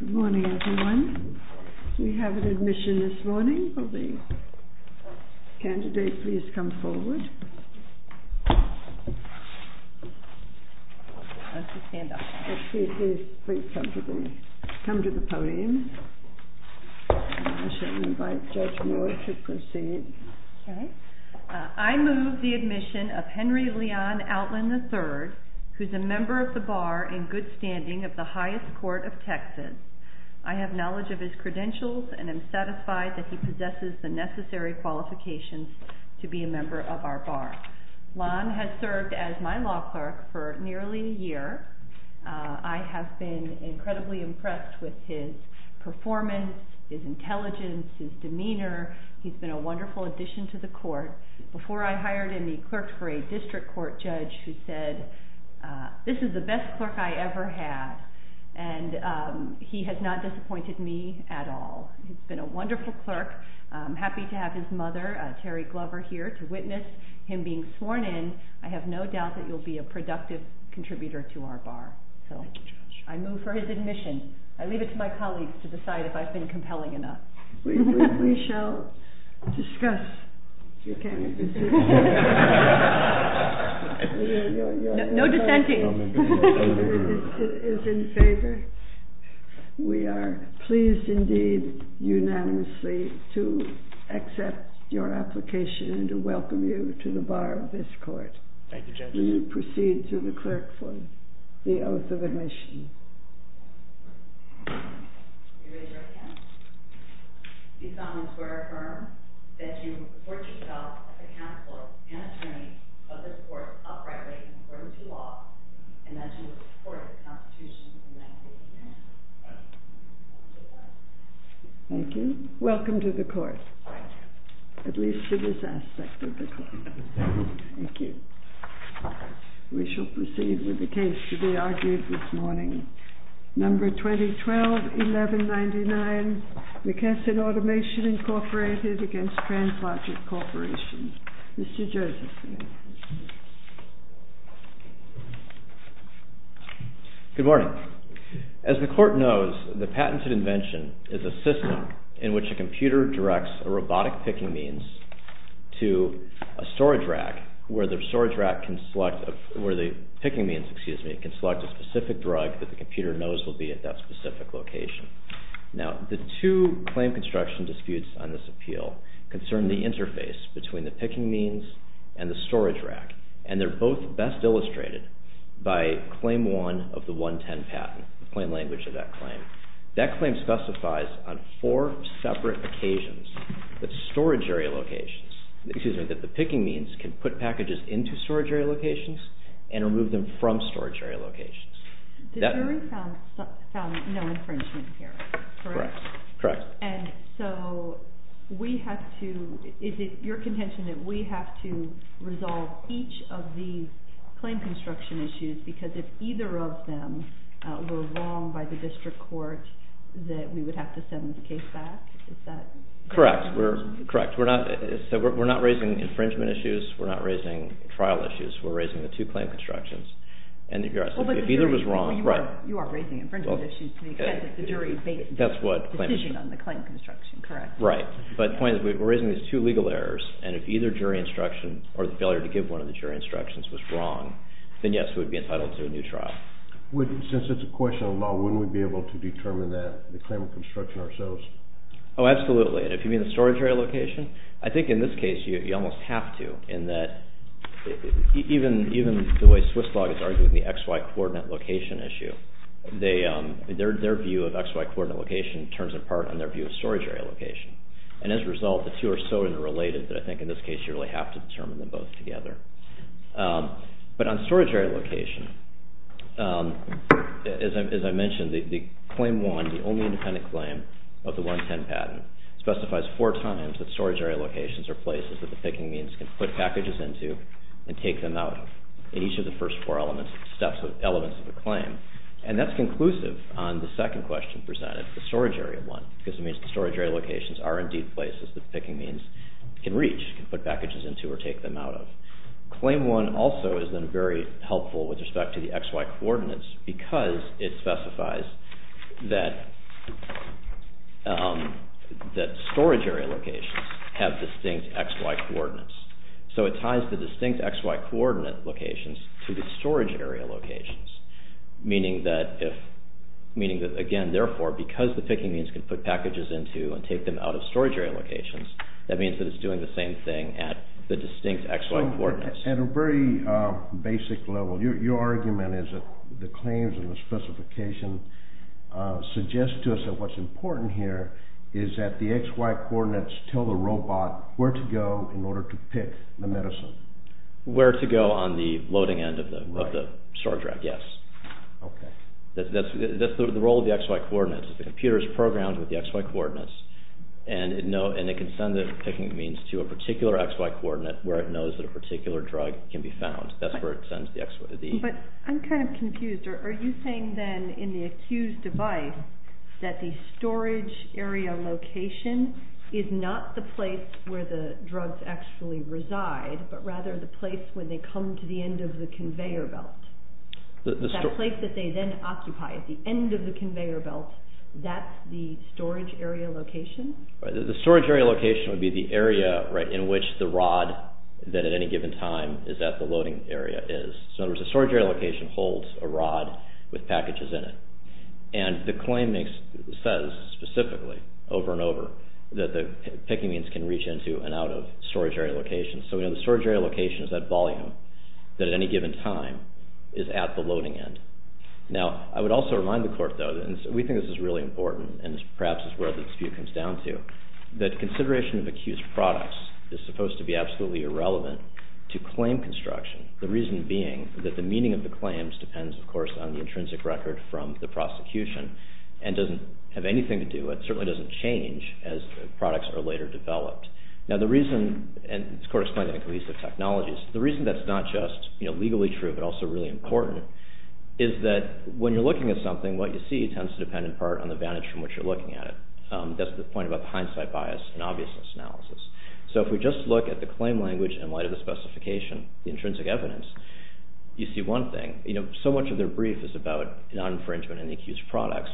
Good morning, everyone. We have an admission this morning. Will the candidates please come forward? Please come to the podium. I shall invite Judge Moore to proceed. I move the admission of Henry Leon Outland III, who is a member of the Bar in good standing of the highest court of Texas. I have knowledge of his credentials and am satisfied that he possesses the necessary qualifications to be a member of our Bar. Leon has served as my law clerk for nearly a year. I have been incredibly impressed with his performance, his intelligence, his demeanor. He's been a wonderful addition to the court. Before I hired him, he clerked for a district court judge who said, this is the best clerk I ever had, and he has not disappointed me at all. He's been a wonderful clerk. I'm happy to have his mother, Terry Glover, here to witness him being sworn in. I have no doubt that you'll be a productive contributor to our Bar. I move for his admission. I leave it to my colleagues to decide if I've been compelling enough. We shall discuss your candidacy. No dissenting. It is in favor. We are pleased indeed, unanimously, to accept your application and to welcome you to the Bar of this court. Thank you, Judge. Will you proceed to the clerk for the oath of admission? These comments were to affirm that you report yourself as a counselor and attorney of this court uprightly in accordance with the law, and that you will support the constitution in that case. Thank you. Welcome to the court. Thank you. At least to this aspect of the court. Thank you. Thank you. We shall proceed with the case to be argued this morning. Number 2012-1199, McKesson Automation, Incorporated, against TransLogic Corporation. Mr. Josephson. Good morning. As the court knows, the patented invention is a system in which a computer directs a robotic picking means to a storage rack, where the storage rack can select, where the picking means, excuse me, can select a specific drug that the computer knows will be at that specific location. Now, the two claim construction disputes on this appeal concern the interface between the picking means and the storage rack, and they're both best illustrated by Claim 1 of the 110 patent, the plain language of that claim. That claim specifies on four separate occasions that storage area locations, excuse me, that the picking means can put packages into storage area locations and remove them from storage area locations. The jury found no infringement here, correct? Correct. And so we have to, is it your contention that we have to resolve each of these claim construction issues, because if either of them were wrong by the district court that we would have to send the case back? Is that correct? Correct. We're not raising infringement issues. We're not raising trial issues. We're raising the two claim constructions. And if either was wrong, right. You are raising infringement issues to the extent that the jury based the decision on the claim construction, correct? Right. But the point is we're raising these two legal errors, and if either jury instruction or the failure to give one of the jury instructions was wrong, then yes, we would be entitled to a new trial. Since it's a question of law, wouldn't we be able to determine that claim of construction ourselves? Oh, absolutely. And if you mean the storage area location, I think in this case you almost have to, in that even the way Swiss law is arguing the XY coordinate location issue, their view of XY coordinate location turns apart on their view of storage area location. And as a result, the two are so interrelated that I think in this case you really have to determine them both together. But on storage area location, as I mentioned, the claim one, the only independent claim of the 110 patent, specifies four times that storage area locations are places that the picking means can put packages into and take them out in each of the first four elements of the claim. And that's conclusive on the second question presented, the storage area one, because it means the storage area locations are indeed places that the picking means can reach, can put packages into or take them out of. Claim one also is then very helpful with respect to the XY coordinates because it specifies that storage area locations have distinct XY coordinates. So it ties the distinct XY coordinate locations to the storage area locations, meaning that, again, therefore, because the picking means can put packages into and take them out of storage area locations, that means that it's doing the same thing at the distinct XY coordinates. At a very basic level, your argument is that the claims and the specification suggest to us that what's important here is that the XY coordinates tell the robot where to go in order to pick the medicine. Where to go on the loading end of the storage rack, yes. That's the role of the XY coordinates. The computer is programmed with the XY coordinates, and it can send the picking means to a particular XY coordinate where it knows that a particular drug can be found. That's where it sends the... But I'm kind of confused. Are you saying then in the accused device that the storage area location is not the place where the drugs actually reside, but rather the place where they come to the end of the conveyor belt? That place that they then occupy at the end of the conveyor belt, that's the storage area location? The storage area location would be the area in which the rod that at any given time is at the loading area is. So in other words, the storage area location holds a rod with packages in it. And the claim says specifically over and over that the picking means can reach into and out of storage area locations. So the storage area location is that volume that at any given time is at the loading end. Now, I would also remind the court, though, and we think this is really important and perhaps is where the dispute comes down to, that consideration of accused products is supposed to be absolutely irrelevant to claim construction, the reason being that the meaning of the claims depends, of course, on the intrinsic record from the prosecution and doesn't have anything to do with, certainly doesn't change as products are later developed. Now, the reason, and this court explained that in cohesive technologies, the reason that's not just legally true but also really important is that when you're looking at something, what you see tends to depend in part on the vantage from which you're looking at it. That's the point about hindsight bias and obviousness analysis. So if we just look at the claim language in light of the specification, the intrinsic evidence, you see one thing. So much of their brief is about non-infringement of any accused products.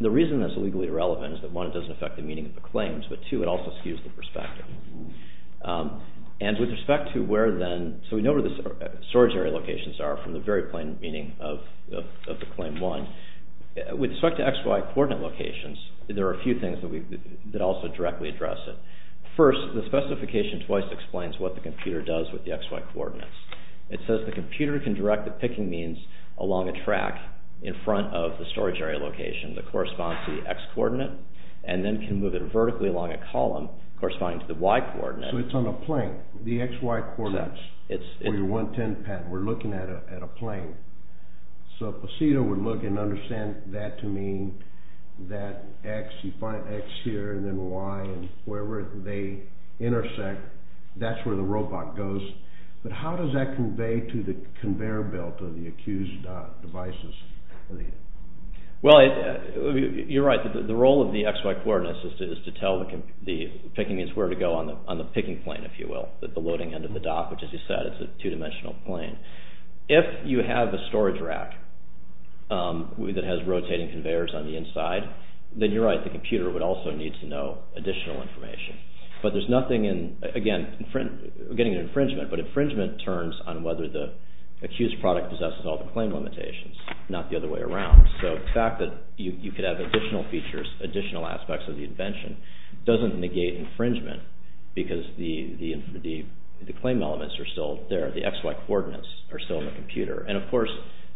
The reason that's legally irrelevant is that, one, it doesn't affect the meaning of the claims, but two, it also skews the perspective. And with respect to where then, so we know where the storage area locations are from the very plain meaning of the claim one. With respect to XY coordinate locations, there are a few things that also directly address it. First, the specification twice explains what the computer does with the XY coordinates. It says the computer can direct the picking means along a track in front of the storage area location that corresponds to the X coordinate and then can move it vertically along a column corresponding to the Y coordinate. So it's on a plane, the XY coordinates for your 110 pad. We're looking at a plane. So a placido would look and understand that to mean that X, you find X here and then Y and wherever they intersect, that's where the robot goes. But how does that convey to the conveyor belt of the accused devices? Well, you're right. The role of the XY coordinates is to tell the picking means where to go on the picking plane, if you will, at the loading end of the dock, which, as you said, is a two-dimensional plane. If you have a storage rack that has rotating conveyors on the inside, then you're right, the computer would also need to know additional information. But there's nothing in, again, getting an infringement, but infringement turns on whether the accused product possesses all the claim limitations, not the other way around. So the fact that you could have additional features, additional aspects of the invention, doesn't negate infringement because the claim elements are still there. The XY coordinates are still in the computer. And, of course,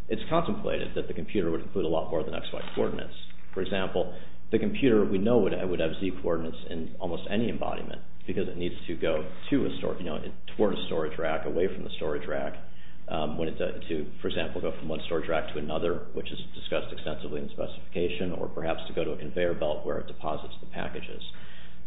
it's contemplated that the computer would include a lot more than XY coordinates. For example, the computer, we know it would have Z coordinates in almost any embodiment because it needs to go toward a storage rack, away from the storage rack, to, for example, go from one storage rack to another, which is discussed extensively in the specification, or perhaps to go to a conveyor belt where it deposits the packages.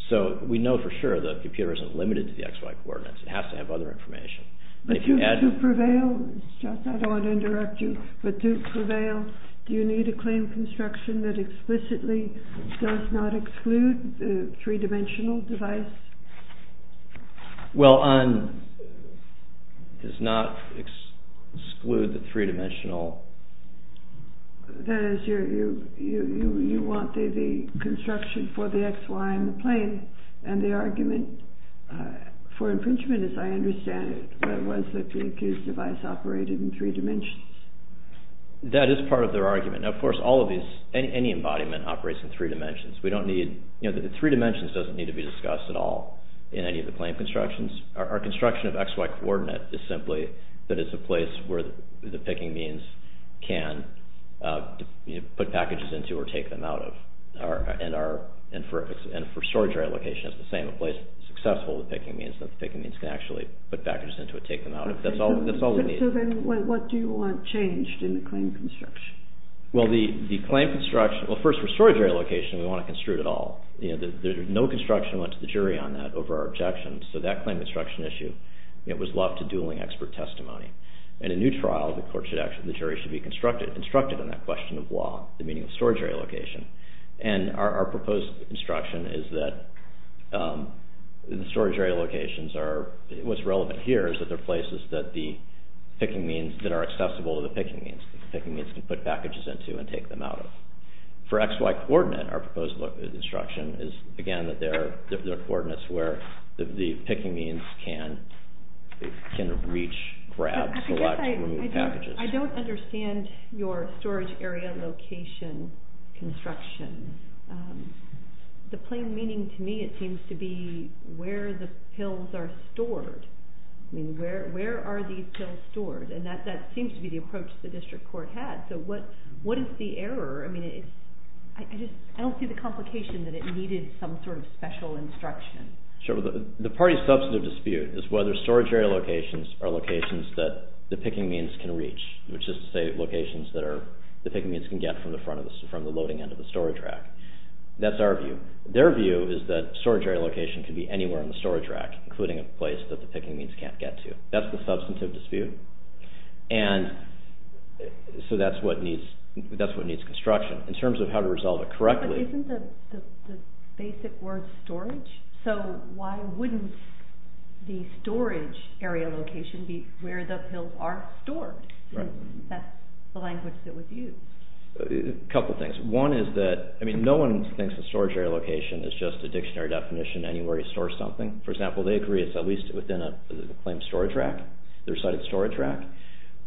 So we know for sure the computer isn't limited to the XY coordinates. It has to have other information. But to prevail, Jeff, I don't want to interrupt you, but to prevail, do you need to claim construction that explicitly does not exclude the three-dimensional device? Well, does not exclude the three-dimensional. That is, you want the construction for the XY in the plane, and the argument for infringement, as I understand it, was that the accused device operated in three dimensions. That is part of their argument. Now, of course, all of these, any embodiment operates in three dimensions. We don't need, you know, the three dimensions doesn't need to be discussed at all in any of the plane constructions. Our construction of XY coordinate is simply that it's a place where the picking means can put packages into or take them out of. And for storage rack location, it's the same. A place that's successful with picking means, that the picking means can actually put packages into or take them out of. That's all we need. Okay, so then what do you want changed in the claim construction? Well, the claim construction... Well, first, for storage area location, we want to construe it all. No construction went to the jury on that over our objections. So that claim construction issue, it was left to dueling expert testimony. In a new trial, the jury should be instructed on that question of law, the meaning of storage area location. And our proposed construction is that the storage area locations are... Picking means that are accessible to the picking means. Picking means can put packages into and take them out of. For XY coordinate, our proposed instruction is, again, that there are coordinates where the picking means can reach, grab, select, remove packages. I don't understand your storage area location construction. The plain meaning to me, it seems to be where the pills are stored. I mean, where are these pills stored? And that seems to be the approach the district court had. So what is the error? I mean, I don't see the complication that it needed some sort of special instruction. Sure. The party's substantive dispute is whether storage area locations are locations that the picking means can reach, which is to say locations that the picking means can get from the loading end of the storage rack. That's our view. Their view is that storage area location can be anywhere on the storage rack, including a place that the picking means can't get to. That's the substantive dispute. And so that's what needs construction. In terms of how to resolve it correctly. But isn't the basic word storage? So why wouldn't the storage area location be where the pills are stored? Right. That's the language that was used. A couple things. One is that, I mean, no one thinks the storage area location is just a dictionary definition anywhere you store something. For example, they agree it's at least within the claimed storage rack, the recited storage rack.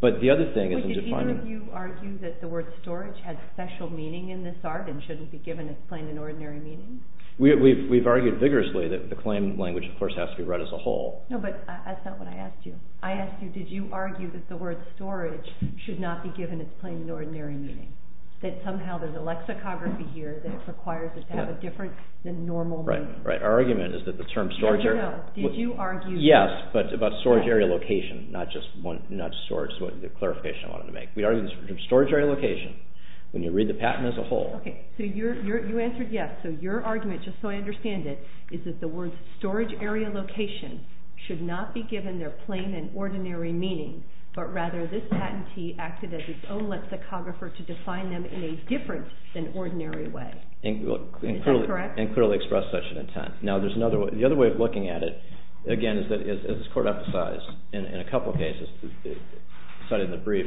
But the other thing is in defining- But did either of you argue that the word storage has special meaning in this art and shouldn't be given its plain and ordinary meaning? We've argued vigorously that the claim language, of course, has to be read as a whole. No, but that's not what I asked you. I asked you, did you argue that the word storage should not be given its plain and ordinary meaning? That somehow there's a lexicography here that requires it to have a difference than normal meaning? Right. Our argument is that the term storage- No, no, no. Did you argue- Yes, but about storage area location, not just storage is what the clarification I wanted to make. We argue the term storage area location when you read the patent as a whole. Okay, so you answered yes. So your argument, just so I understand it, is that the word storage area location should not be given their plain and ordinary meaning, but rather this patentee acted as its own lexicographer to define them in a different than ordinary way. Is that correct? And clearly expressed such an intent. Now, the other way of looking at it, again, is that as this court emphasized in a couple of cases cited in the brief,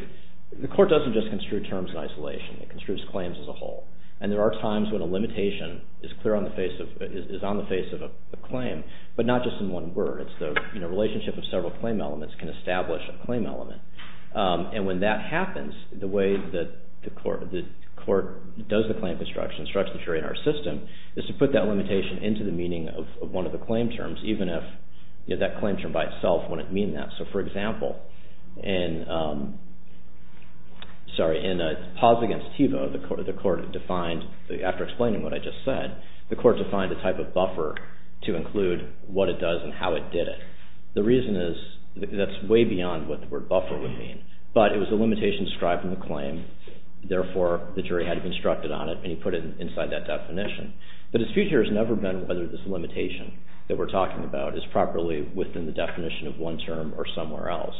the court doesn't just construe terms in isolation. It construes claims as a whole. And there are times when a limitation is on the face of a claim, but not just in one word. It's the relationship of several claim elements can establish a claim element. And when that happens, the way that the court does the claim construction, the way the court constructs the jury in our system, is to put that limitation into the meaning of one of the claim terms, even if that claim term by itself wouldn't mean that. So, for example, in Paws Against Tevo, the court defined, after explaining what I just said, the court defined a type of buffer to include what it does and how it did it. The reason is that's way beyond what the word buffer would mean. But it was a limitation described in the claim, and therefore the jury had to be instructed on it, and he put it inside that definition. The dispute here has never been whether this limitation that we're talking about is properly within the definition of one term or somewhere else.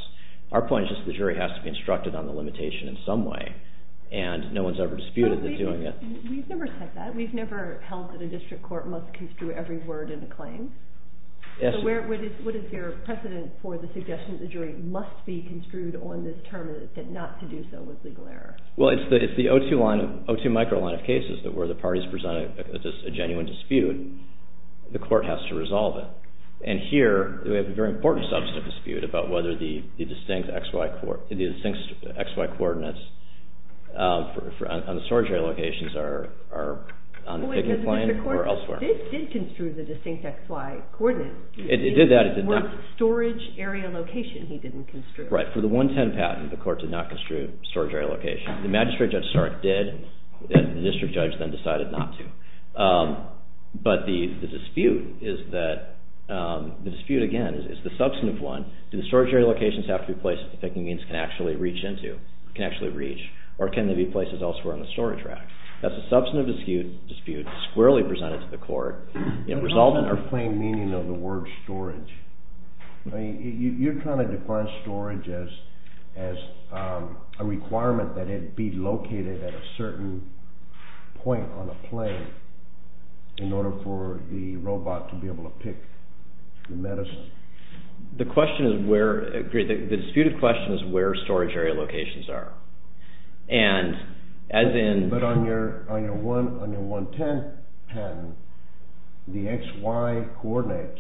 Our point is just that the jury has to be instructed on the limitation in some way, and no one's ever disputed that doing it. We've never said that. We've never held that a district court must construe every word in a claim. So what is your precedent for the suggestion that the jury must be construed on this term and not to do so with legal error? Well, it's the O2 micro line of cases where the parties present a genuine dispute. The court has to resolve it. And here, we have a very important substantive dispute about whether the distinct XY coordinates on the storage area locations are on the ticket plan or elsewhere. But the court did construe the distinct XY coordinates. It did that. More of the storage area location he didn't construe. Right. For the 110 patent, the court did not construe storage area location. The magistrate judge Stark did, and the district judge then decided not to. But the dispute is that... The dispute, again, is the substantive one. Do the storage area locations have to be places that the picking means can actually reach into, can actually reach, or can they be places elsewhere on the storage rack? That's a substantive dispute, squarely presented to the court. It doesn't explain the meaning of the word storage. You're trying to define storage as a requirement that it be located at a certain point on a plane in order for the robot to be able to pick the medicine. The question is where... The disputed question is where storage area locations are. And as in... But on your 110 patent, the XY coordinates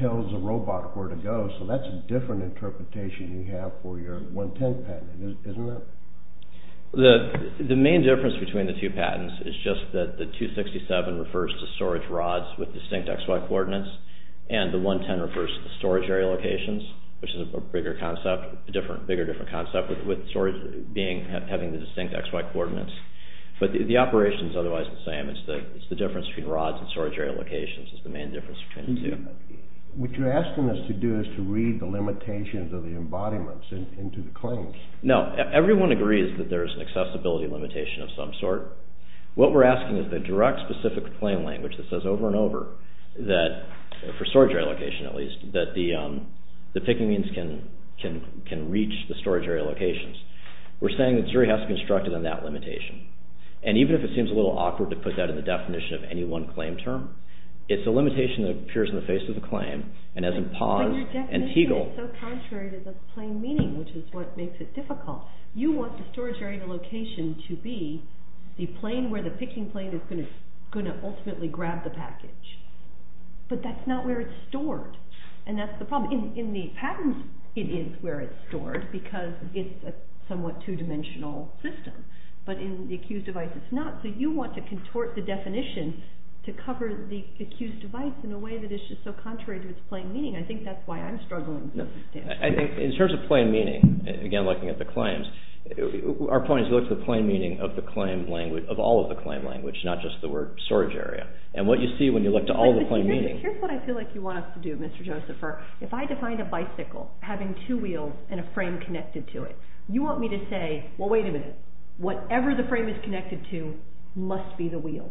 tells the robot where to go, so that's a different interpretation you have for your 110 patent, isn't it? The main difference between the two patents is just that the 267 refers to storage rods with distinct XY coordinates, and the 110 refers to the storage area locations, which is a bigger concept, a bigger, different concept, with storage having the distinct XY coordinates. But the operation's otherwise the same. It's the difference between rods and storage area locations is the main difference between the two. What you're asking us to do is to read the limitations of the embodiments into the claims. No, everyone agrees that there's an accessibility limitation of some sort. What we're asking is the direct specific claim language that says over and over that, for storage area location at least, that the Pekingese can reach the storage area locations. We're saying that Zuri has to construct it on that limitation. And even if it seems a little awkward to put that in the definition of any one claim term, it's a limitation that appears in the face of the claim, and hasn't paused. But your definition is so contrary to the plain meaning, which is what makes it difficult. You want the storage area location to be the plane where the Peking plane is going to ultimately grab the package. But that's not where it's stored. And that's the problem. In the patents, it is where it's stored, because it's a somewhat two-dimensional system. But in the accused device, it's not. So you want to contort the definition to cover the accused device in a way that is just so contrary to its plain meaning. I think that's why I'm struggling with this. I think in terms of plain meaning, again, looking at the claims, our point is to look at the plain meaning of all of the claim language, not just the word storage area. And what you see when you look to all the plain meaning... Here's what I feel like you want us to do, Mr. Josepher. If I defined a bicycle having two wheels and a frame connected to it, you want me to say, well, wait a minute. Whatever the frame is connected to must be the wheel.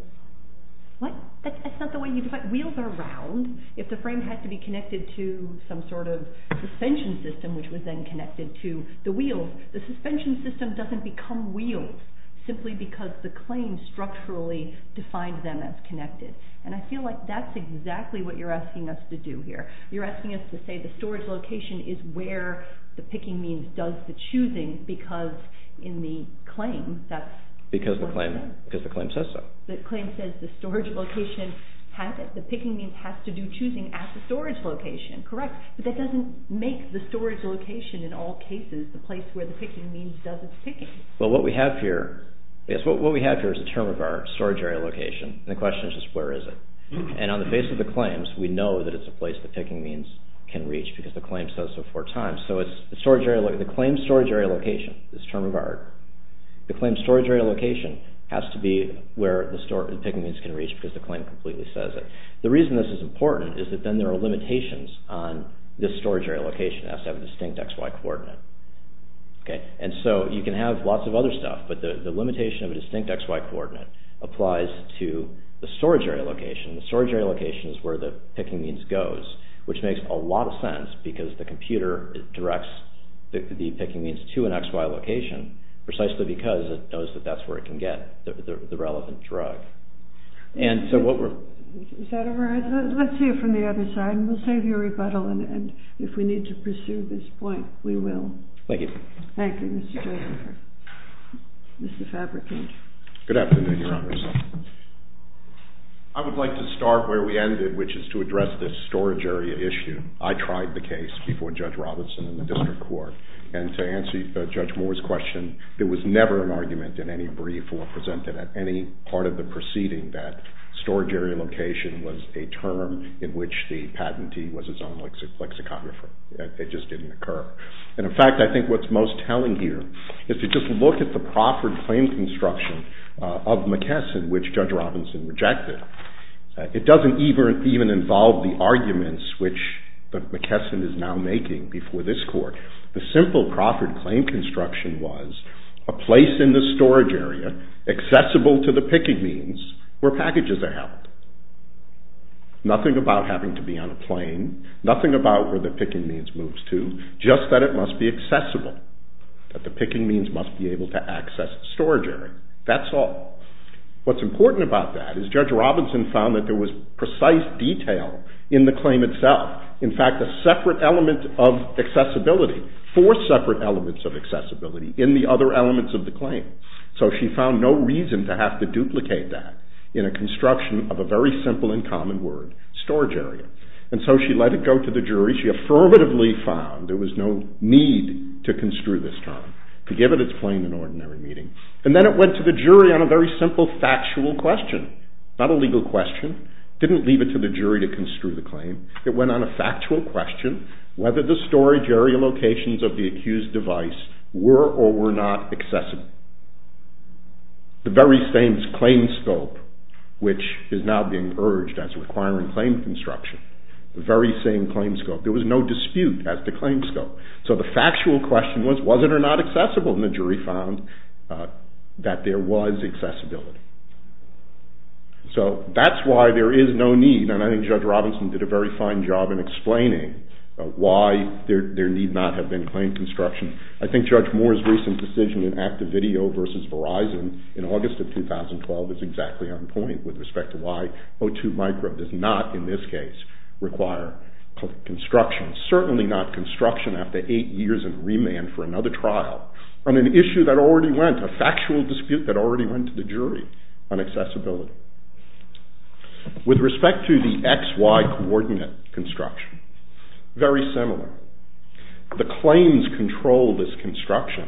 What? That's not the way you define... Wheels are round. If the frame had to be connected to some sort of suspension system, which was then connected to the wheels, the suspension system doesn't become wheels simply because the claim structurally defined them as connected. And I feel like that's exactly what you're asking us to do here. You're asking us to say the storage location is where the picking means does the choosing because in the claim, that's... Because the claim says so. The claim says the storage location the picking means has to do choosing at the storage location. Correct. But that doesn't make the storage location in all cases the place where the picking means does its picking. What we have here is the term of our storage area location. The question is just where is it? And on the face of the claims, we know that it's a place where the picking means can reach because the claim says so four times. The claim storage area location is term of art. The claim storage area location has to be where the picking means can reach because the claim completely says it. The reason this is important is that then there are limitations on this storage area location that has to have a distinct XY coordinate. And so you can have lots of other stuff but the limitation of a distinct XY coordinate applies to the storage area location. The storage area location is where the picking means goes, which makes a lot of sense because the computer directs the picking means to an XY location precisely because it knows that that's where it can get the relevant drug. And so what we're... Is that all right? Let's see it from the other side and we'll save you a rebuttal and if we need to pursue this point, we will. Thank you. Thank you, Mr. Joseph. Mr. Fabricant. Good afternoon, Your Honor. I would like to start where we ended, which is to address this storage area issue. I tried the case before Judge Robertson in the District Court and to answer Judge Moore's question, there was never an argument in any brief or presented at any part of the proceeding that storage area location was a term in which the patentee was his own lexicographer. It just didn't occur. And in fact, I think what's most telling here is to just look at the Profford claim construction of McKesson which Judge Robertson rejected. It doesn't even involve the arguments which McKesson is now making before this Court. The simple Profford claim construction was a place in the storage area accessible to the picking means where packages are held. Nothing about having to be on a plane, nothing about where the picking means moves to, just that it must be accessible. That the picking means must be able to access the storage area. That's all. What's important about that is Judge Robertson found that there was precise detail in the claim itself. In fact, a separate element of accessibility, four separate elements of accessibility in the other elements of the claim. So she found no reason to have to duplicate that in a construction of a very simple and common word, storage area. And so she let it go to the jury. She affirmatively found there was no need to construe this term. To give it it's plain and ordinary meaning. And then it went to the jury on a very simple factual question. Not a legal question. Didn't leave it to the jury to construe the claim. It went on a factual question whether the storage area locations of the accused device were or were not accessible. The very same claim scope which is now being urged as requiring claim construction. The very same claim scope. There was no dispute as to claim scope. So the factual question was was it or not accessible and the jury found that there was accessibility. So that's why there is no need and I think Judge Robinson did a very fine job in explaining why there need not have been claim construction. I think Judge Moore's recent decision in Active Video versus Verizon in August of 2012 is exactly on point with respect to why O2 Micro does not in this case require construction. Certainly not construction after 8 years in remand for another trial. On an issue that already went a factual dispute that already went to the jury on accessibility. With respect to the XY coordinate construction very similar. The claims control this construction.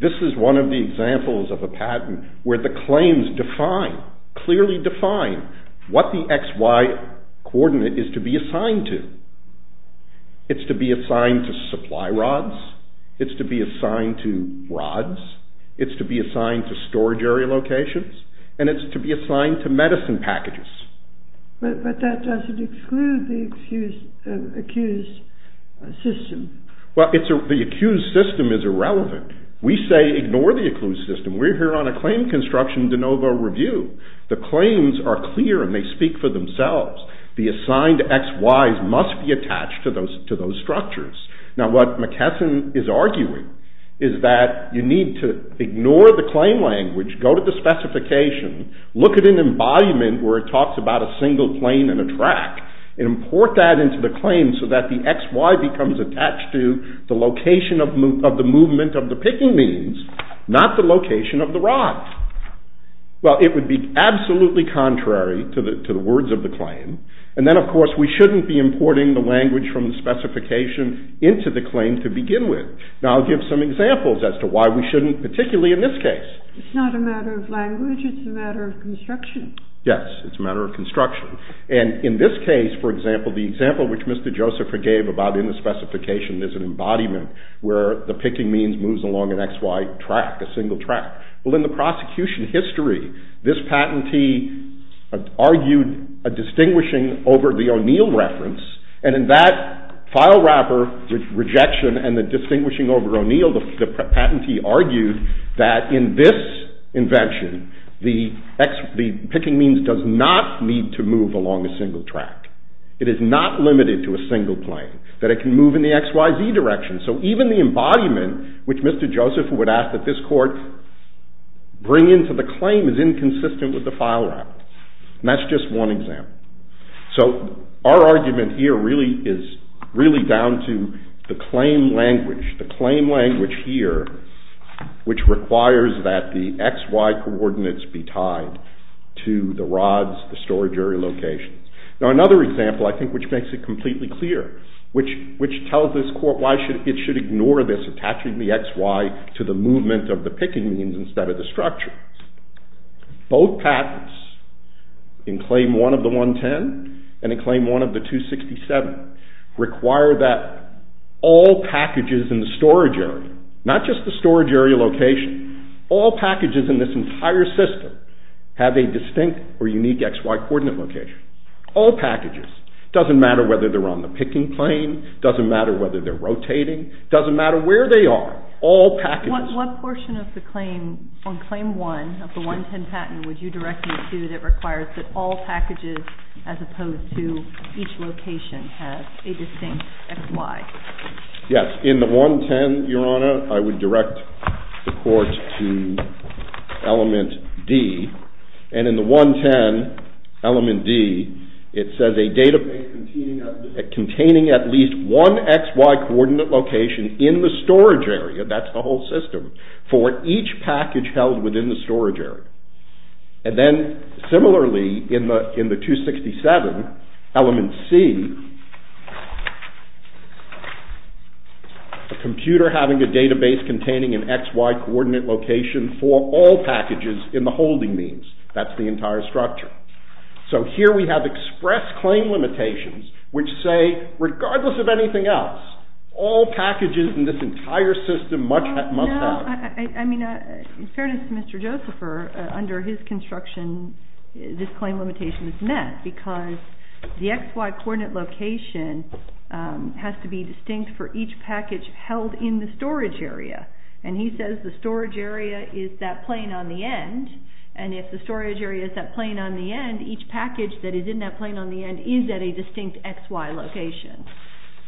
This is one of the examples of a patent where the claims define clearly define what the XY coordinate is to be assigned to. It's to be assigned to supply rods. It's to be assigned to rods. It's to be assigned to storage area locations. And it's to be assigned to medicine packages. But that doesn't exclude the accused system. Well the accused system is irrelevant. We say ignore the accused system. We're here on a claim construction de novo review. The claims are clear and they speak for themselves. The assigned XY must be attached to those structures. Now what McKesson is arguing is that you need to ignore the claim language. Go to the specification. Look at an embodiment where it talks about a single plane and a track. Import that into the claim so that the XY becomes attached to the location of the movement of the picking means. Not the location of the rod. Well it would be absolutely contrary to the words of the claim. And then of course we shouldn't be importing the language from the specification into the claim to begin with. Now I'll give some examples as to why we shouldn't, particularly in this case. It's not a matter of language, it's a matter of construction. Yes, it's a matter of construction. And in this case for example, the example which Mr. Joseph gave about in the specification is an embodiment where the picking means moves along an XY track, a single track. Well in the prosecution history this patentee argued a distinguishing over the O'Neill reference. And in that file wrapper rejection and the distinguishing over O'Neill, the patentee argued that in this invention the picking means does not need to move along a single track. It is not limited to a single plane. That it can move in the XYZ direction. So even the embodiment, which Mr. Joseph would ask that this court bring into the claim is inconsistent with the file wrapper. And that's just one example. So our argument here really is really down to the claim language, the claim language here which requires that the XY coordinates be tied to the rods, the storage area locations. Now another example I think which makes it completely clear, which tells this court why it should ignore this attaching the XY to the movement of the picking means instead of the structure. Both patents in claim 1 of the 110 and in claim 1 of the 267 require that all packages in the storage area not just the storage area location all packages in this entire system have a distinct or unique XY coordinate location. All packages, doesn't matter whether they're on the picking plane, doesn't matter whether they're rotating, doesn't matter where they are, all packages What portion of the claim on claim 1 of the 110 patent would you direct me to that requires that all packages as opposed to each location have a distinct XY? Yes, in the 110 Your Honor I would direct the court to element D. And in the 110 element D it says a database containing at least one XY coordinate location in the storage area, that's the whole system, for each package held within the storage area. And then similarly in the 267 element C a computer having a database containing an XY coordinate location for all packages in the holding means. That's the entire structure. So here we have express claim limitations which say regardless of anything else, all packages in this entire system must have No, I mean in fairness to Mr. Josepher, under his construction this claim limitation is met because the XY coordinate location has to be distinct for each package held in the storage area and he says the storage area is that plane on the end and if the storage area is that plane on the end, each package that is in that plane on the end is at a distinct XY location.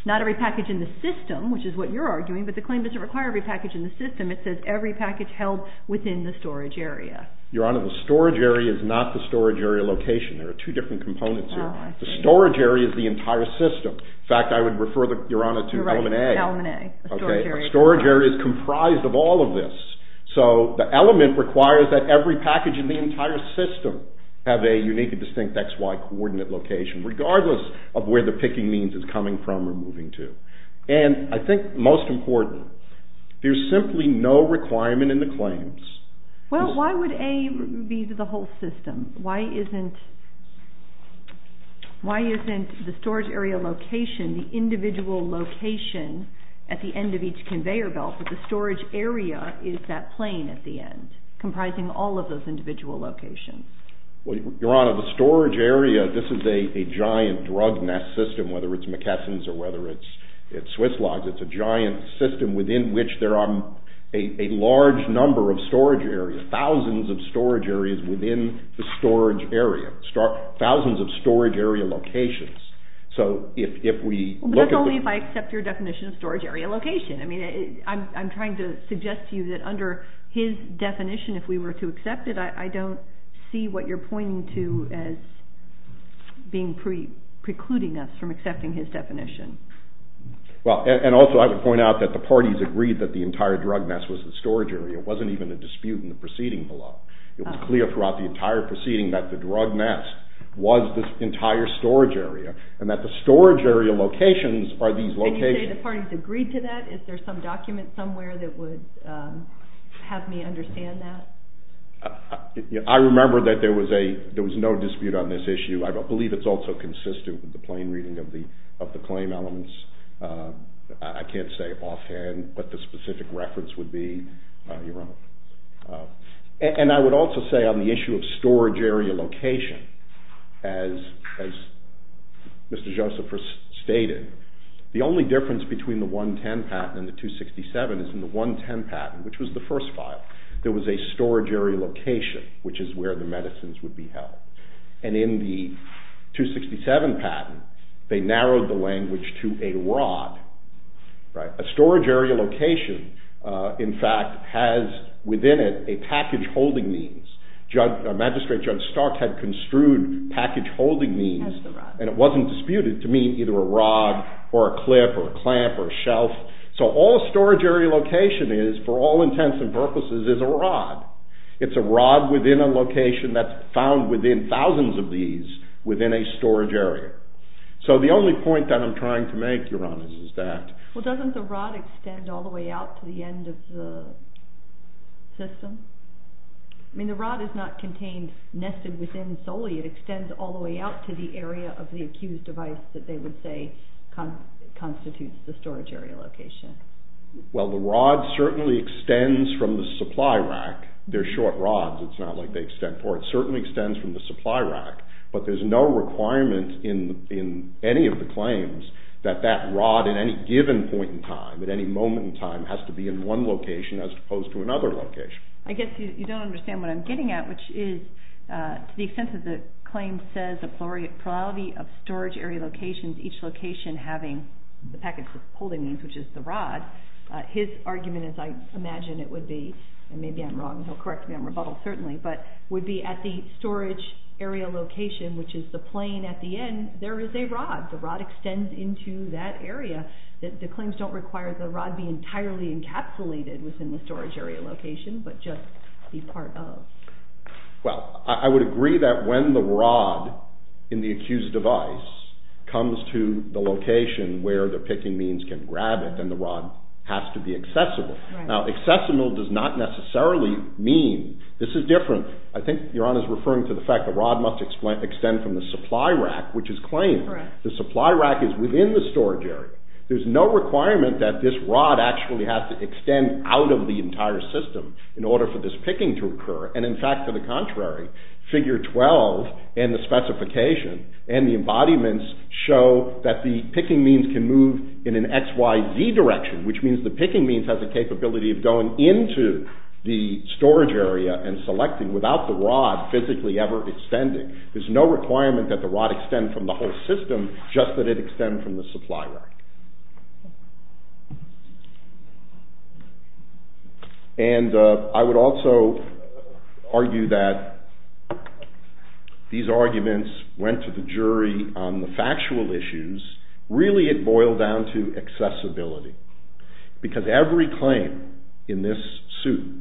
Not every package in the system, which is what you're arguing, but the claim doesn't require every package in the system. It says every package held within the storage area. Your Honor, the storage area is not the storage area location. There are two different components here. The storage area is the entire system. In fact, I would refer Your Honor to element A. Storage area is comprised of all of this. So the element requires that every package in the entire system have a unique and distinct XY coordinate location, regardless of where the picking means is coming from or moving to. And I think most important, there's simply no requirement in the claims. Well, why would A be the whole system? Why isn't why isn't the storage area location the individual location at the end of each conveyor belt, but the storage area is that plane at the end, comprising all of those individual locations? Well, Your Honor, the storage area, this is a giant drug nest system, whether it's McKesson's or whether it's Swiss Logs. It's a giant system within which there are a large number of storage areas, thousands of storage areas within the storage area, thousands of storage area locations. So if we look at the... Well, but that's only if I accept your definition of storage area location. I mean, I'm trying to suggest to you that under his definition, if we were to accept it, I don't see what you're pointing to as precluding us from accepting his definition. Well, and also, I would point out that the parties agreed that the entire drug nest was the storage area. It wasn't even a dispute in the proceeding below. It was clear throughout the entire proceeding that the drug nest was this entire storage area, and that the storage area locations are these locations. Can you say the parties agreed to that? Is there some document somewhere that would have me understand that? I remember that there was no dispute on this issue. I believe it's also consistent with the plain reading of the claim elements. I can't say offhand what the specific reference would be. And I would also say on the issue of storage area location, as Mr. Joseph stated, the only difference between the 110 patent and the 267 patent, which was the first file, there was a storage area location, which is where the medicines would be held. And in the 267 patent, they narrowed the language to a rod. A storage area location, in fact, has within it a package holding means. Magistrate Judge Stark had construed package disputed to mean either a rod or a clip or a clamp or a shelf. So all storage area location is, for all intents and purposes, is a rod. It's a rod within a location that's found within thousands of these within a storage area. So the only point that I'm trying to make, Your Honor, is that... Well, doesn't the rod extend all the way out to the end of the system? I mean, the rod is not contained nested within solely. It extends all the way out to the area of the accused device that they would say constitutes the storage area location. Well, the rod certainly extends from the supply rack. They're short rods. It's not like they extend forward. It certainly extends from the supply rack, but there's no requirement in any of the claims that that rod at any given point in time, at any moment in time, has to be in one location as opposed to another location. I guess you don't understand what I'm getting at, which is to the extent that the claim says the plurality of storage area locations, each location having the packet holding these, which is the rod, his argument is I imagine it would be, and maybe I'm wrong, he'll correct me, I'm rebuttal, certainly, but would be at the storage area location, which is the plane at the end, there is a rod. The rod extends into that area. The claims don't require the rod be entirely encapsulated within the storage area location, but just be part of. Well, I would agree that when the rod in the accused device comes to the location where the picking means can grab it, then the rod has to be accessible. Now, accessible does not necessarily mean, this is different, I think Your Honor is referring to the fact that the rod must extend from the supply rack, which is claimed. The supply rack is within the storage area. There's no requirement that this rod actually system in order for this picking to occur, and in fact, to the contrary, figure 12 and the specification and the embodiments show that the picking means can move in an XYZ direction, which means the picking means has the capability of going into the storage area and selecting without the rod physically ever extending. There's no requirement that the rod extend from the whole system, just that it extend from the supply rack. And I would also argue that these arguments went to the jury on the factual issues, really it boiled down to accessibility. Because every claim in this suit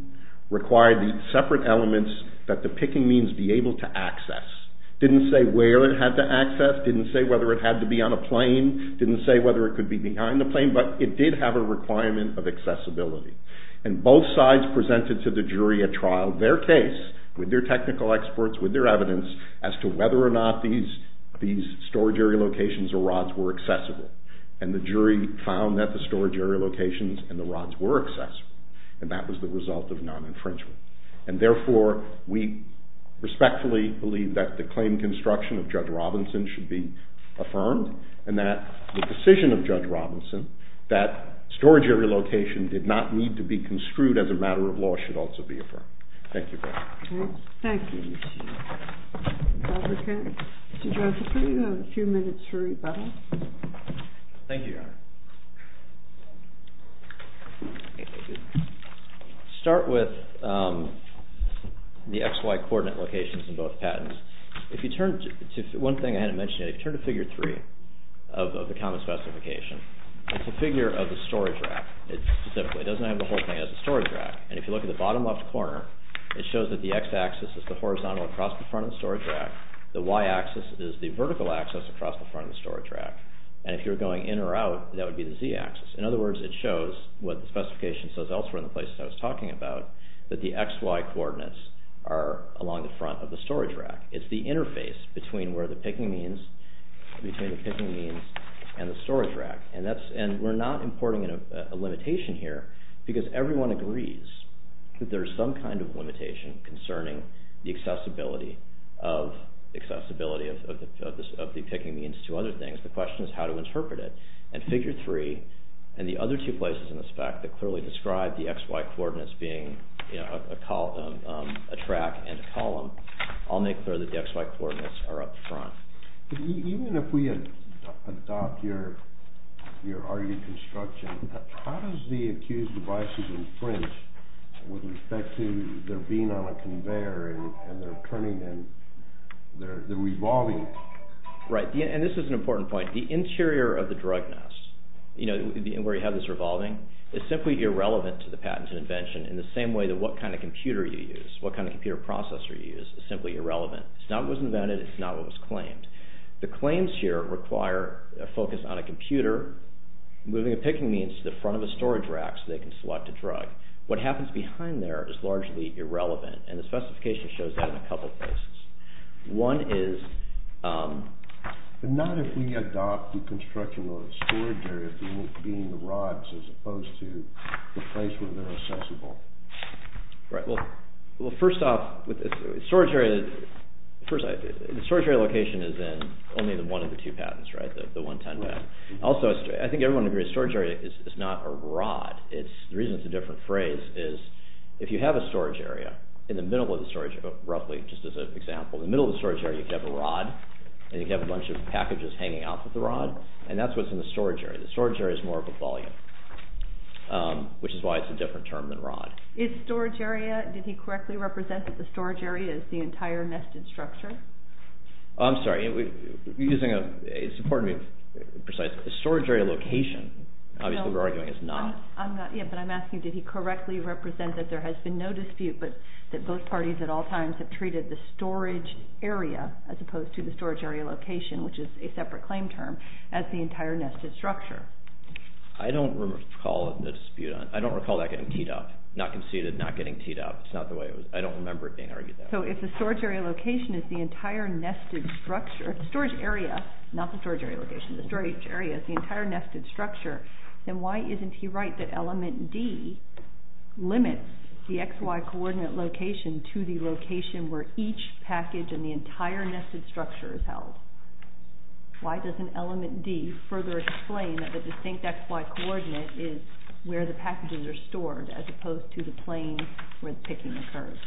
required these separate elements that the picking means be able to access. Didn't say where it had to access, didn't say whether it had to be on a plane, didn't say whether it could be behind the plane, but it did have a requirement of accessibility. And both sides presented to the jury at trial their case, with their technical experts, with their evidence, as to whether or not these storage area locations or rods were accessible. And the jury found that the storage area locations and the rods were accessible. And that was the result of non- infringement. And therefore, we respectfully believe that the claim construction of Judge Robinson should be affirmed, and that the decision of Judge Robinson that storage area location did not need to be construed as a matter of law should also be affirmed. Thank you. Thank you. Mr. Joseph, you have a few minutes for rebuttal. Thank you, Your Honor. Start with the XY coordinate locations in both patents. If you turn to, one thing I hadn't mentioned yet, if you turn to figure three, of the common specification, it's a figure of the storage rack. It doesn't have the whole thing as a storage rack. And if you look at the bottom left corner, it shows that the x-axis is the horizontal across the front of the storage rack. The y-axis is the vertical axis across the front of the storage rack. And if you're going in or out, that would be the z-axis. In other words, it shows what the specification says elsewhere in the places I was talking about, that the XY coordinates are along the front of the storage rack. It's the interface between where the picking means and the storage rack. And we're not importing a limitation here, because everyone agrees that there's some kind of limitation concerning the accessibility of the picking means to other things. The question is how to interpret it. And figure three and the other two places in the spec that clearly describe the XY coordinates being a track and a column, I'll make clear that the XY coordinates are up front. Even if we adopt your RD construction, how does the accused devices infringe with respect to their being on a conveyor and their turning and their revolving? Right. And this is an important point. The interior of the drug nest, where you have this revolving, is simply irrelevant to the patent and invention in the same way that what kind of computer you use, what kind of computer processor you use, is simply irrelevant. It's not what was invented, it's not what was claimed. The claims here require a focus on a computer moving a picking means to the front of a storage rack so they can select a drug. What happens behind there is largely irrelevant, and the specification shows that in a couple places. One is... But not if we adopt the construction of a storage area being the rods as opposed to the place where they're accessible. Right. Well, first off, the storage area location is in only the one of the two patents, right? The 110 patent. Also, I think everyone agrees storage area is not a rod. The reason it's a different phrase is if you have a storage area, in the middle of the storage area, roughly, just as an example, in the middle of the storage area you have a rod, and you have a bunch of packages hanging off of the rod, and that's what's in the storage area. The storage area is more of a volume, which is why it's a different term than rod. Is storage area... Did he correctly represent that the storage area is the entire nested structure? I'm sorry. It's important to be precise. The storage area location obviously we're arguing is not... Yeah, but I'm asking did he correctly represent that there has been no dispute, but that both parties at all times have treated the storage area as opposed to the storage area location, which is a separate claim term, as the entire nested structure. I don't recall the dispute on... I don't recall that getting teed up, not conceded, not getting teed up. It's not the way it was... I don't remember it being argued that way. So if the storage area location is the entire nested structure, storage area, not the storage area location, the storage area is the entire nested structure, then why isn't he right that element D limits the XY coordinate location to the location where each package in the entire nested structure is held? Why doesn't element D further explain that the distinct XY coordinate is where the packages are stored as opposed to the plane where the picking occurs?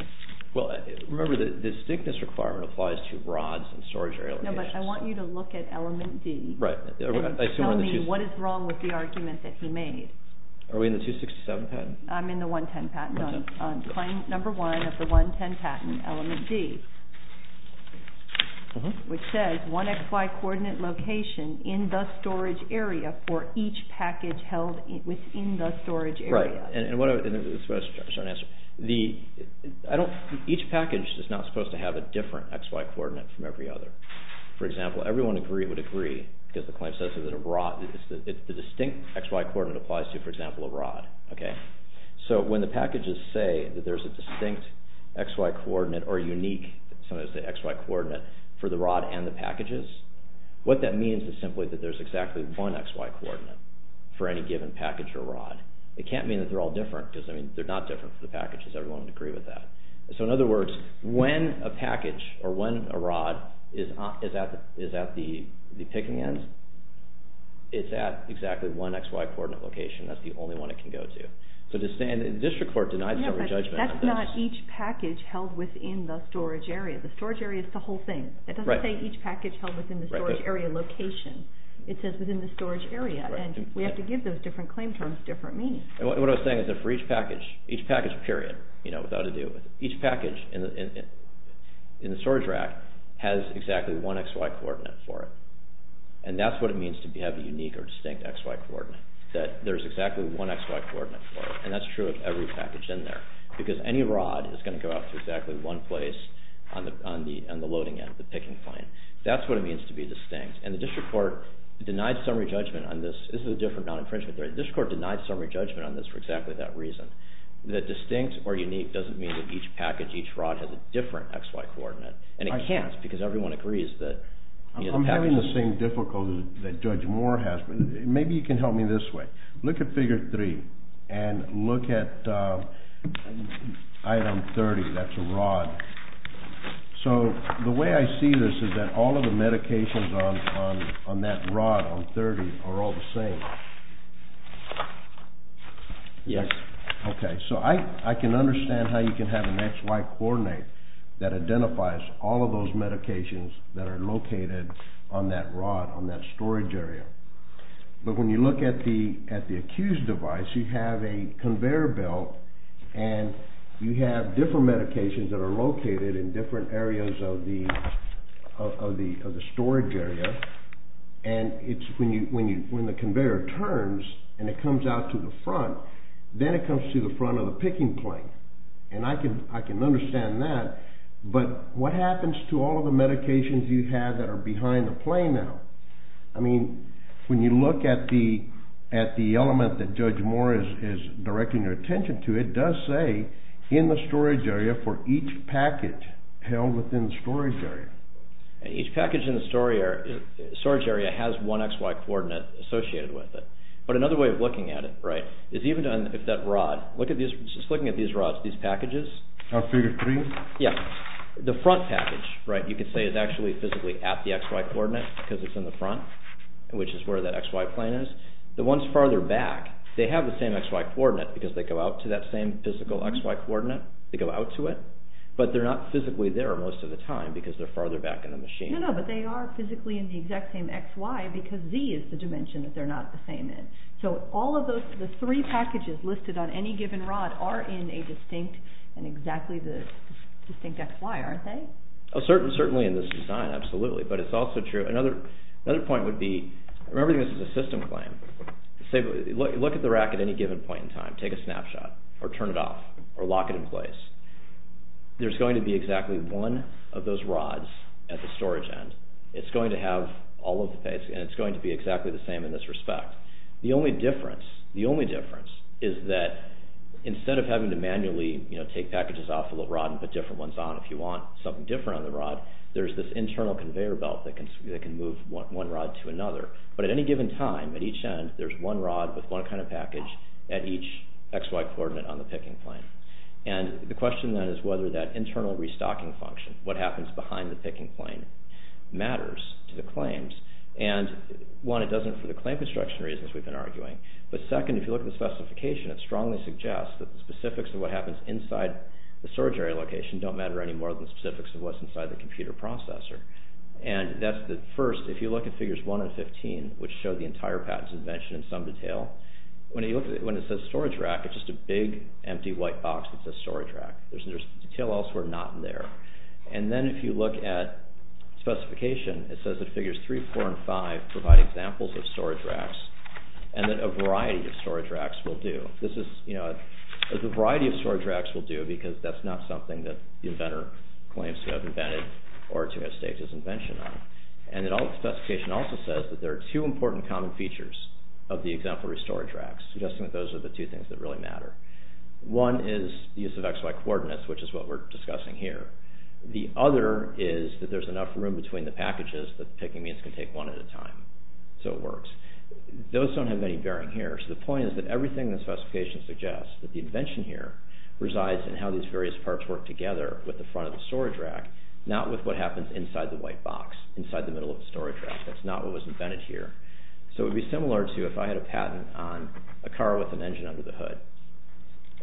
Well, remember the distinctness requirement applies to rods and storage area locations. No, but I want you to look at element D and tell me what is wrong with the argument that he made. Are we in the 267 patent? I'm in the 110 patent. Claim number one of the 110 patent, element D, which says one XY coordinate location in the storage area for each package held within the storage area. Right, and what I was trying to answer, each package is not supposed to have a different XY coordinate from every other. For example, everyone would agree, because the claim says that a rod is the distinct XY coordinate applies to, for example, a rod. So when the packages say that there's a distinct XY coordinate or unique, sometimes they say XY coordinate for the rod and the packages, what that means is simply that there's exactly one XY coordinate for any given package or rod. It can't mean that they're all different, because I mean, they're not different for the packages. Everyone would agree with that. So in other words, when a package or when a rod is at the picking end, it's at exactly one XY coordinate location. That's the only one it can go to. So the district court denies that judgment. That's not each package held within the storage area. The storage area is the whole thing. It doesn't say each package held within the storage area location. It says within the storage area, and we have to give those different claim terms different meanings. What I was saying is that for each package, each package, period, without a deal with it, each package in the storage rack has exactly one XY coordinate for it. And that's what it means to have a unique or distinct XY coordinate, that there's exactly one XY coordinate for it. And that's true of every package in there. Because any rod is going to go out to exactly one place on the loading end, the picking plane. That's what it means to be distinct. And the district court denied summary judgment on this. This is a different non-infringement theory. The district court denied summary judgment on this for exactly that reason. That distinct or unique doesn't mean that each package, each rod, has a different XY coordinate. And it can't, because everyone agrees that the package... I'm having the same difficulties that Judge Moore has. Maybe you can help me this way. Look at Figure 3. And look at Item 30. That's a rod. So, the way I see this is that all of the medications on that rod, on 30, are all the same. Yes. Okay. So I can understand how you can have an XY coordinate that identifies all of those medications that are located on that rod, on that storage area. But when you look at the Q's device, you have a conveyor belt, and you have different medications that are located in different areas of the storage area. And when the conveyor turns and it comes out to the front, then it comes to the front of the picking plane. And I can understand that, but what happens to all of the medications you have that are behind the plane now? I mean, when you look at the element that Judge Moore is directing your attention to, it does say in the storage area for each package held within the storage area. Each package in the storage area has one XY coordinate associated with it. But another way of looking at it, right, is even if that rod, just looking at these rods, these packages... Figure 3? Yeah. The front package, right, you could say is actually physically at the XY coordinate, because it's in the front, which is where the XY plane is. The ones farther back, they have the same XY coordinate, because they go out to that same physical XY coordinate. They go out to it, but they're not physically there most of the time, because they're farther back in the machine. No, no, but they are physically in the exact same XY, because Z is the dimension that they're not the same in. So all of the three packages listed on any given rod are in a distinct, in exactly the distinct XY, aren't they? Certainly in this design, absolutely. But it's also true, another point would be, remembering this is a system claim, say, look at the rack at any given point in time, take a snapshot, or turn it off, or lock it in place. There's going to be exactly one of those rods at the storage end. It's going to have all of the things, and it's going to be exactly the same in this respect. The only difference, the only difference, is that instead of having to manually take packages off the rod and put different ones on if you want something different on the rod, there's this internal conveyor belt that can move one rod to another. But at any given time, at each end, there's one rod with one kind of package at each XY coordinate on the picking plane. And the question then is whether that internal restocking function, what happens behind the picking plane, matters to the claims. And one, it doesn't for the claim construction reasons we've been arguing, but second, if you look at the specification, it strongly suggests that the specifics of what happens inside the storage area location don't matter any more than the specifics of what's inside the computer processor. And that's the first. If you look at figures 1 and 15, which show the entire patent's invention in some detail, when it says storage rack, it's just a big empty white box that says storage rack. There's detail elsewhere not in there. And then if you look at specification, it says that figures 3, 4, and 5 provide examples of storage racks, and that a variety of storage racks will do. A variety of storage racks will do, because that's not something that the inventor claims to have invented or to have staked his invention on. And the specification also says that there are two important common features of the exemplary storage racks, suggesting that those are the two things that really matter. One is the use of XY coordinates, which is what we're discussing here. The other is that there's enough room between the packages that picking means can take one at a time. So it works. Those don't have any bearing here. So the point is that everything in the specification suggests that the invention here resides in how these various parts work together with the front of the storage rack, not with what happens inside the white box, inside the middle of the storage rack. That's not what was invented here. So it would be similar to if I had a patent on a car with an engine under the hood.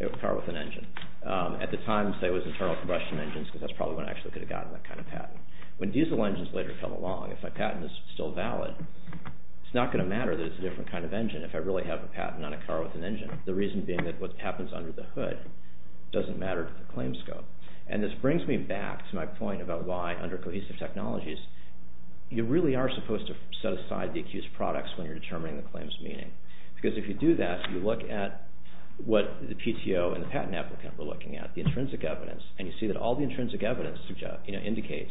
A car with an engine. At the time, say it was internal combustion engines, because that's probably when I actually could have gotten that kind of patent. When diesel engines later come along, if my patent is still valid, it's not going to matter that it's a different kind of engine if I really have a patent on a car with an engine. The reason being that what happens under the hood doesn't matter to the claim scope. And this brings me back to my point about why, under cohesive technologies, you really are supposed to set aside the accused products when you're determining the claim's meaning. Because if you do that, you look at what the PTO and the patent applicant were looking at, the intrinsic evidence. And you see that all the intrinsic evidence indicates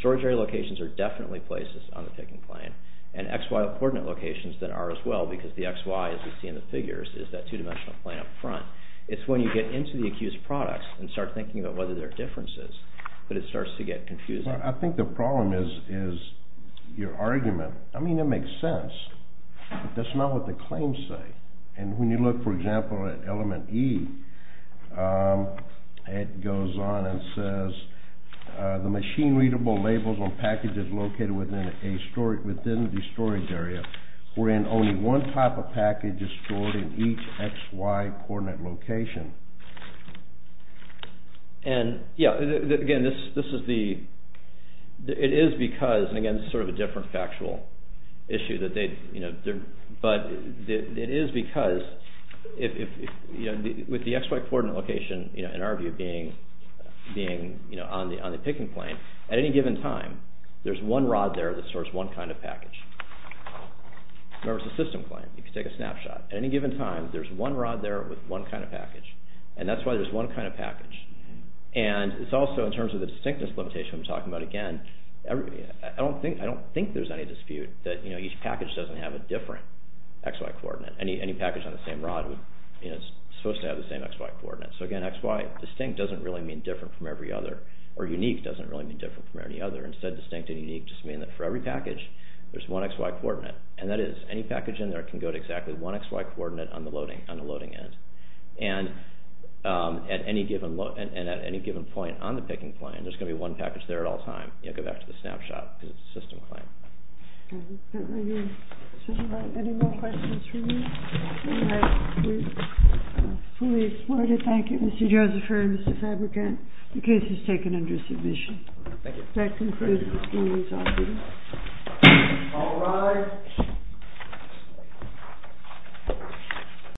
storage area locations are definitely places on the picking plane and XY coordinate locations that are as well, because the XY, as you see in the figures, is that two-dimensional plane up front. It's when you get into the accused products and start thinking about whether there are differences that it starts to get confusing. I think the problem is your argument. I mean, it makes sense, but that's not what the claims say. And when you look, for example, at element E, it goes on and says, the machine-readable labels on packages located within the storage area, wherein only one type of package is stored in each XY coordinate location. And, yeah, again, this is the, it is because, and again, this is sort of a different factual issue that they, but it is because with the XY coordinate location in our view being on the picking plane, at any given time, there's one kind of package. Remember, it's a system claim. You can take a snapshot. At any given time, there's one rod there with one kind of package. And that's why there's one kind of package. And it's also, in terms of the distinctness limitation I'm talking about, again, I don't think there's any dispute that each package doesn't have a different XY coordinate. Any package on the same rod is supposed to have the same XY coordinate. So again, XY distinct doesn't really mean different from every other, or unique doesn't really mean different from any other. Instead, distinct and unique just mean that for every package there's one XY coordinate. And that is, any package in there can go to exactly one XY coordinate on the loading end. And at any given point on the picking plane, there's going to be one package there at all times. Go back to the snapshot, because it's a system claim. Any more questions from you? We fully supported. Thank you, Mr. Josepher and Mr. Fabrikant. The case is taken under submission.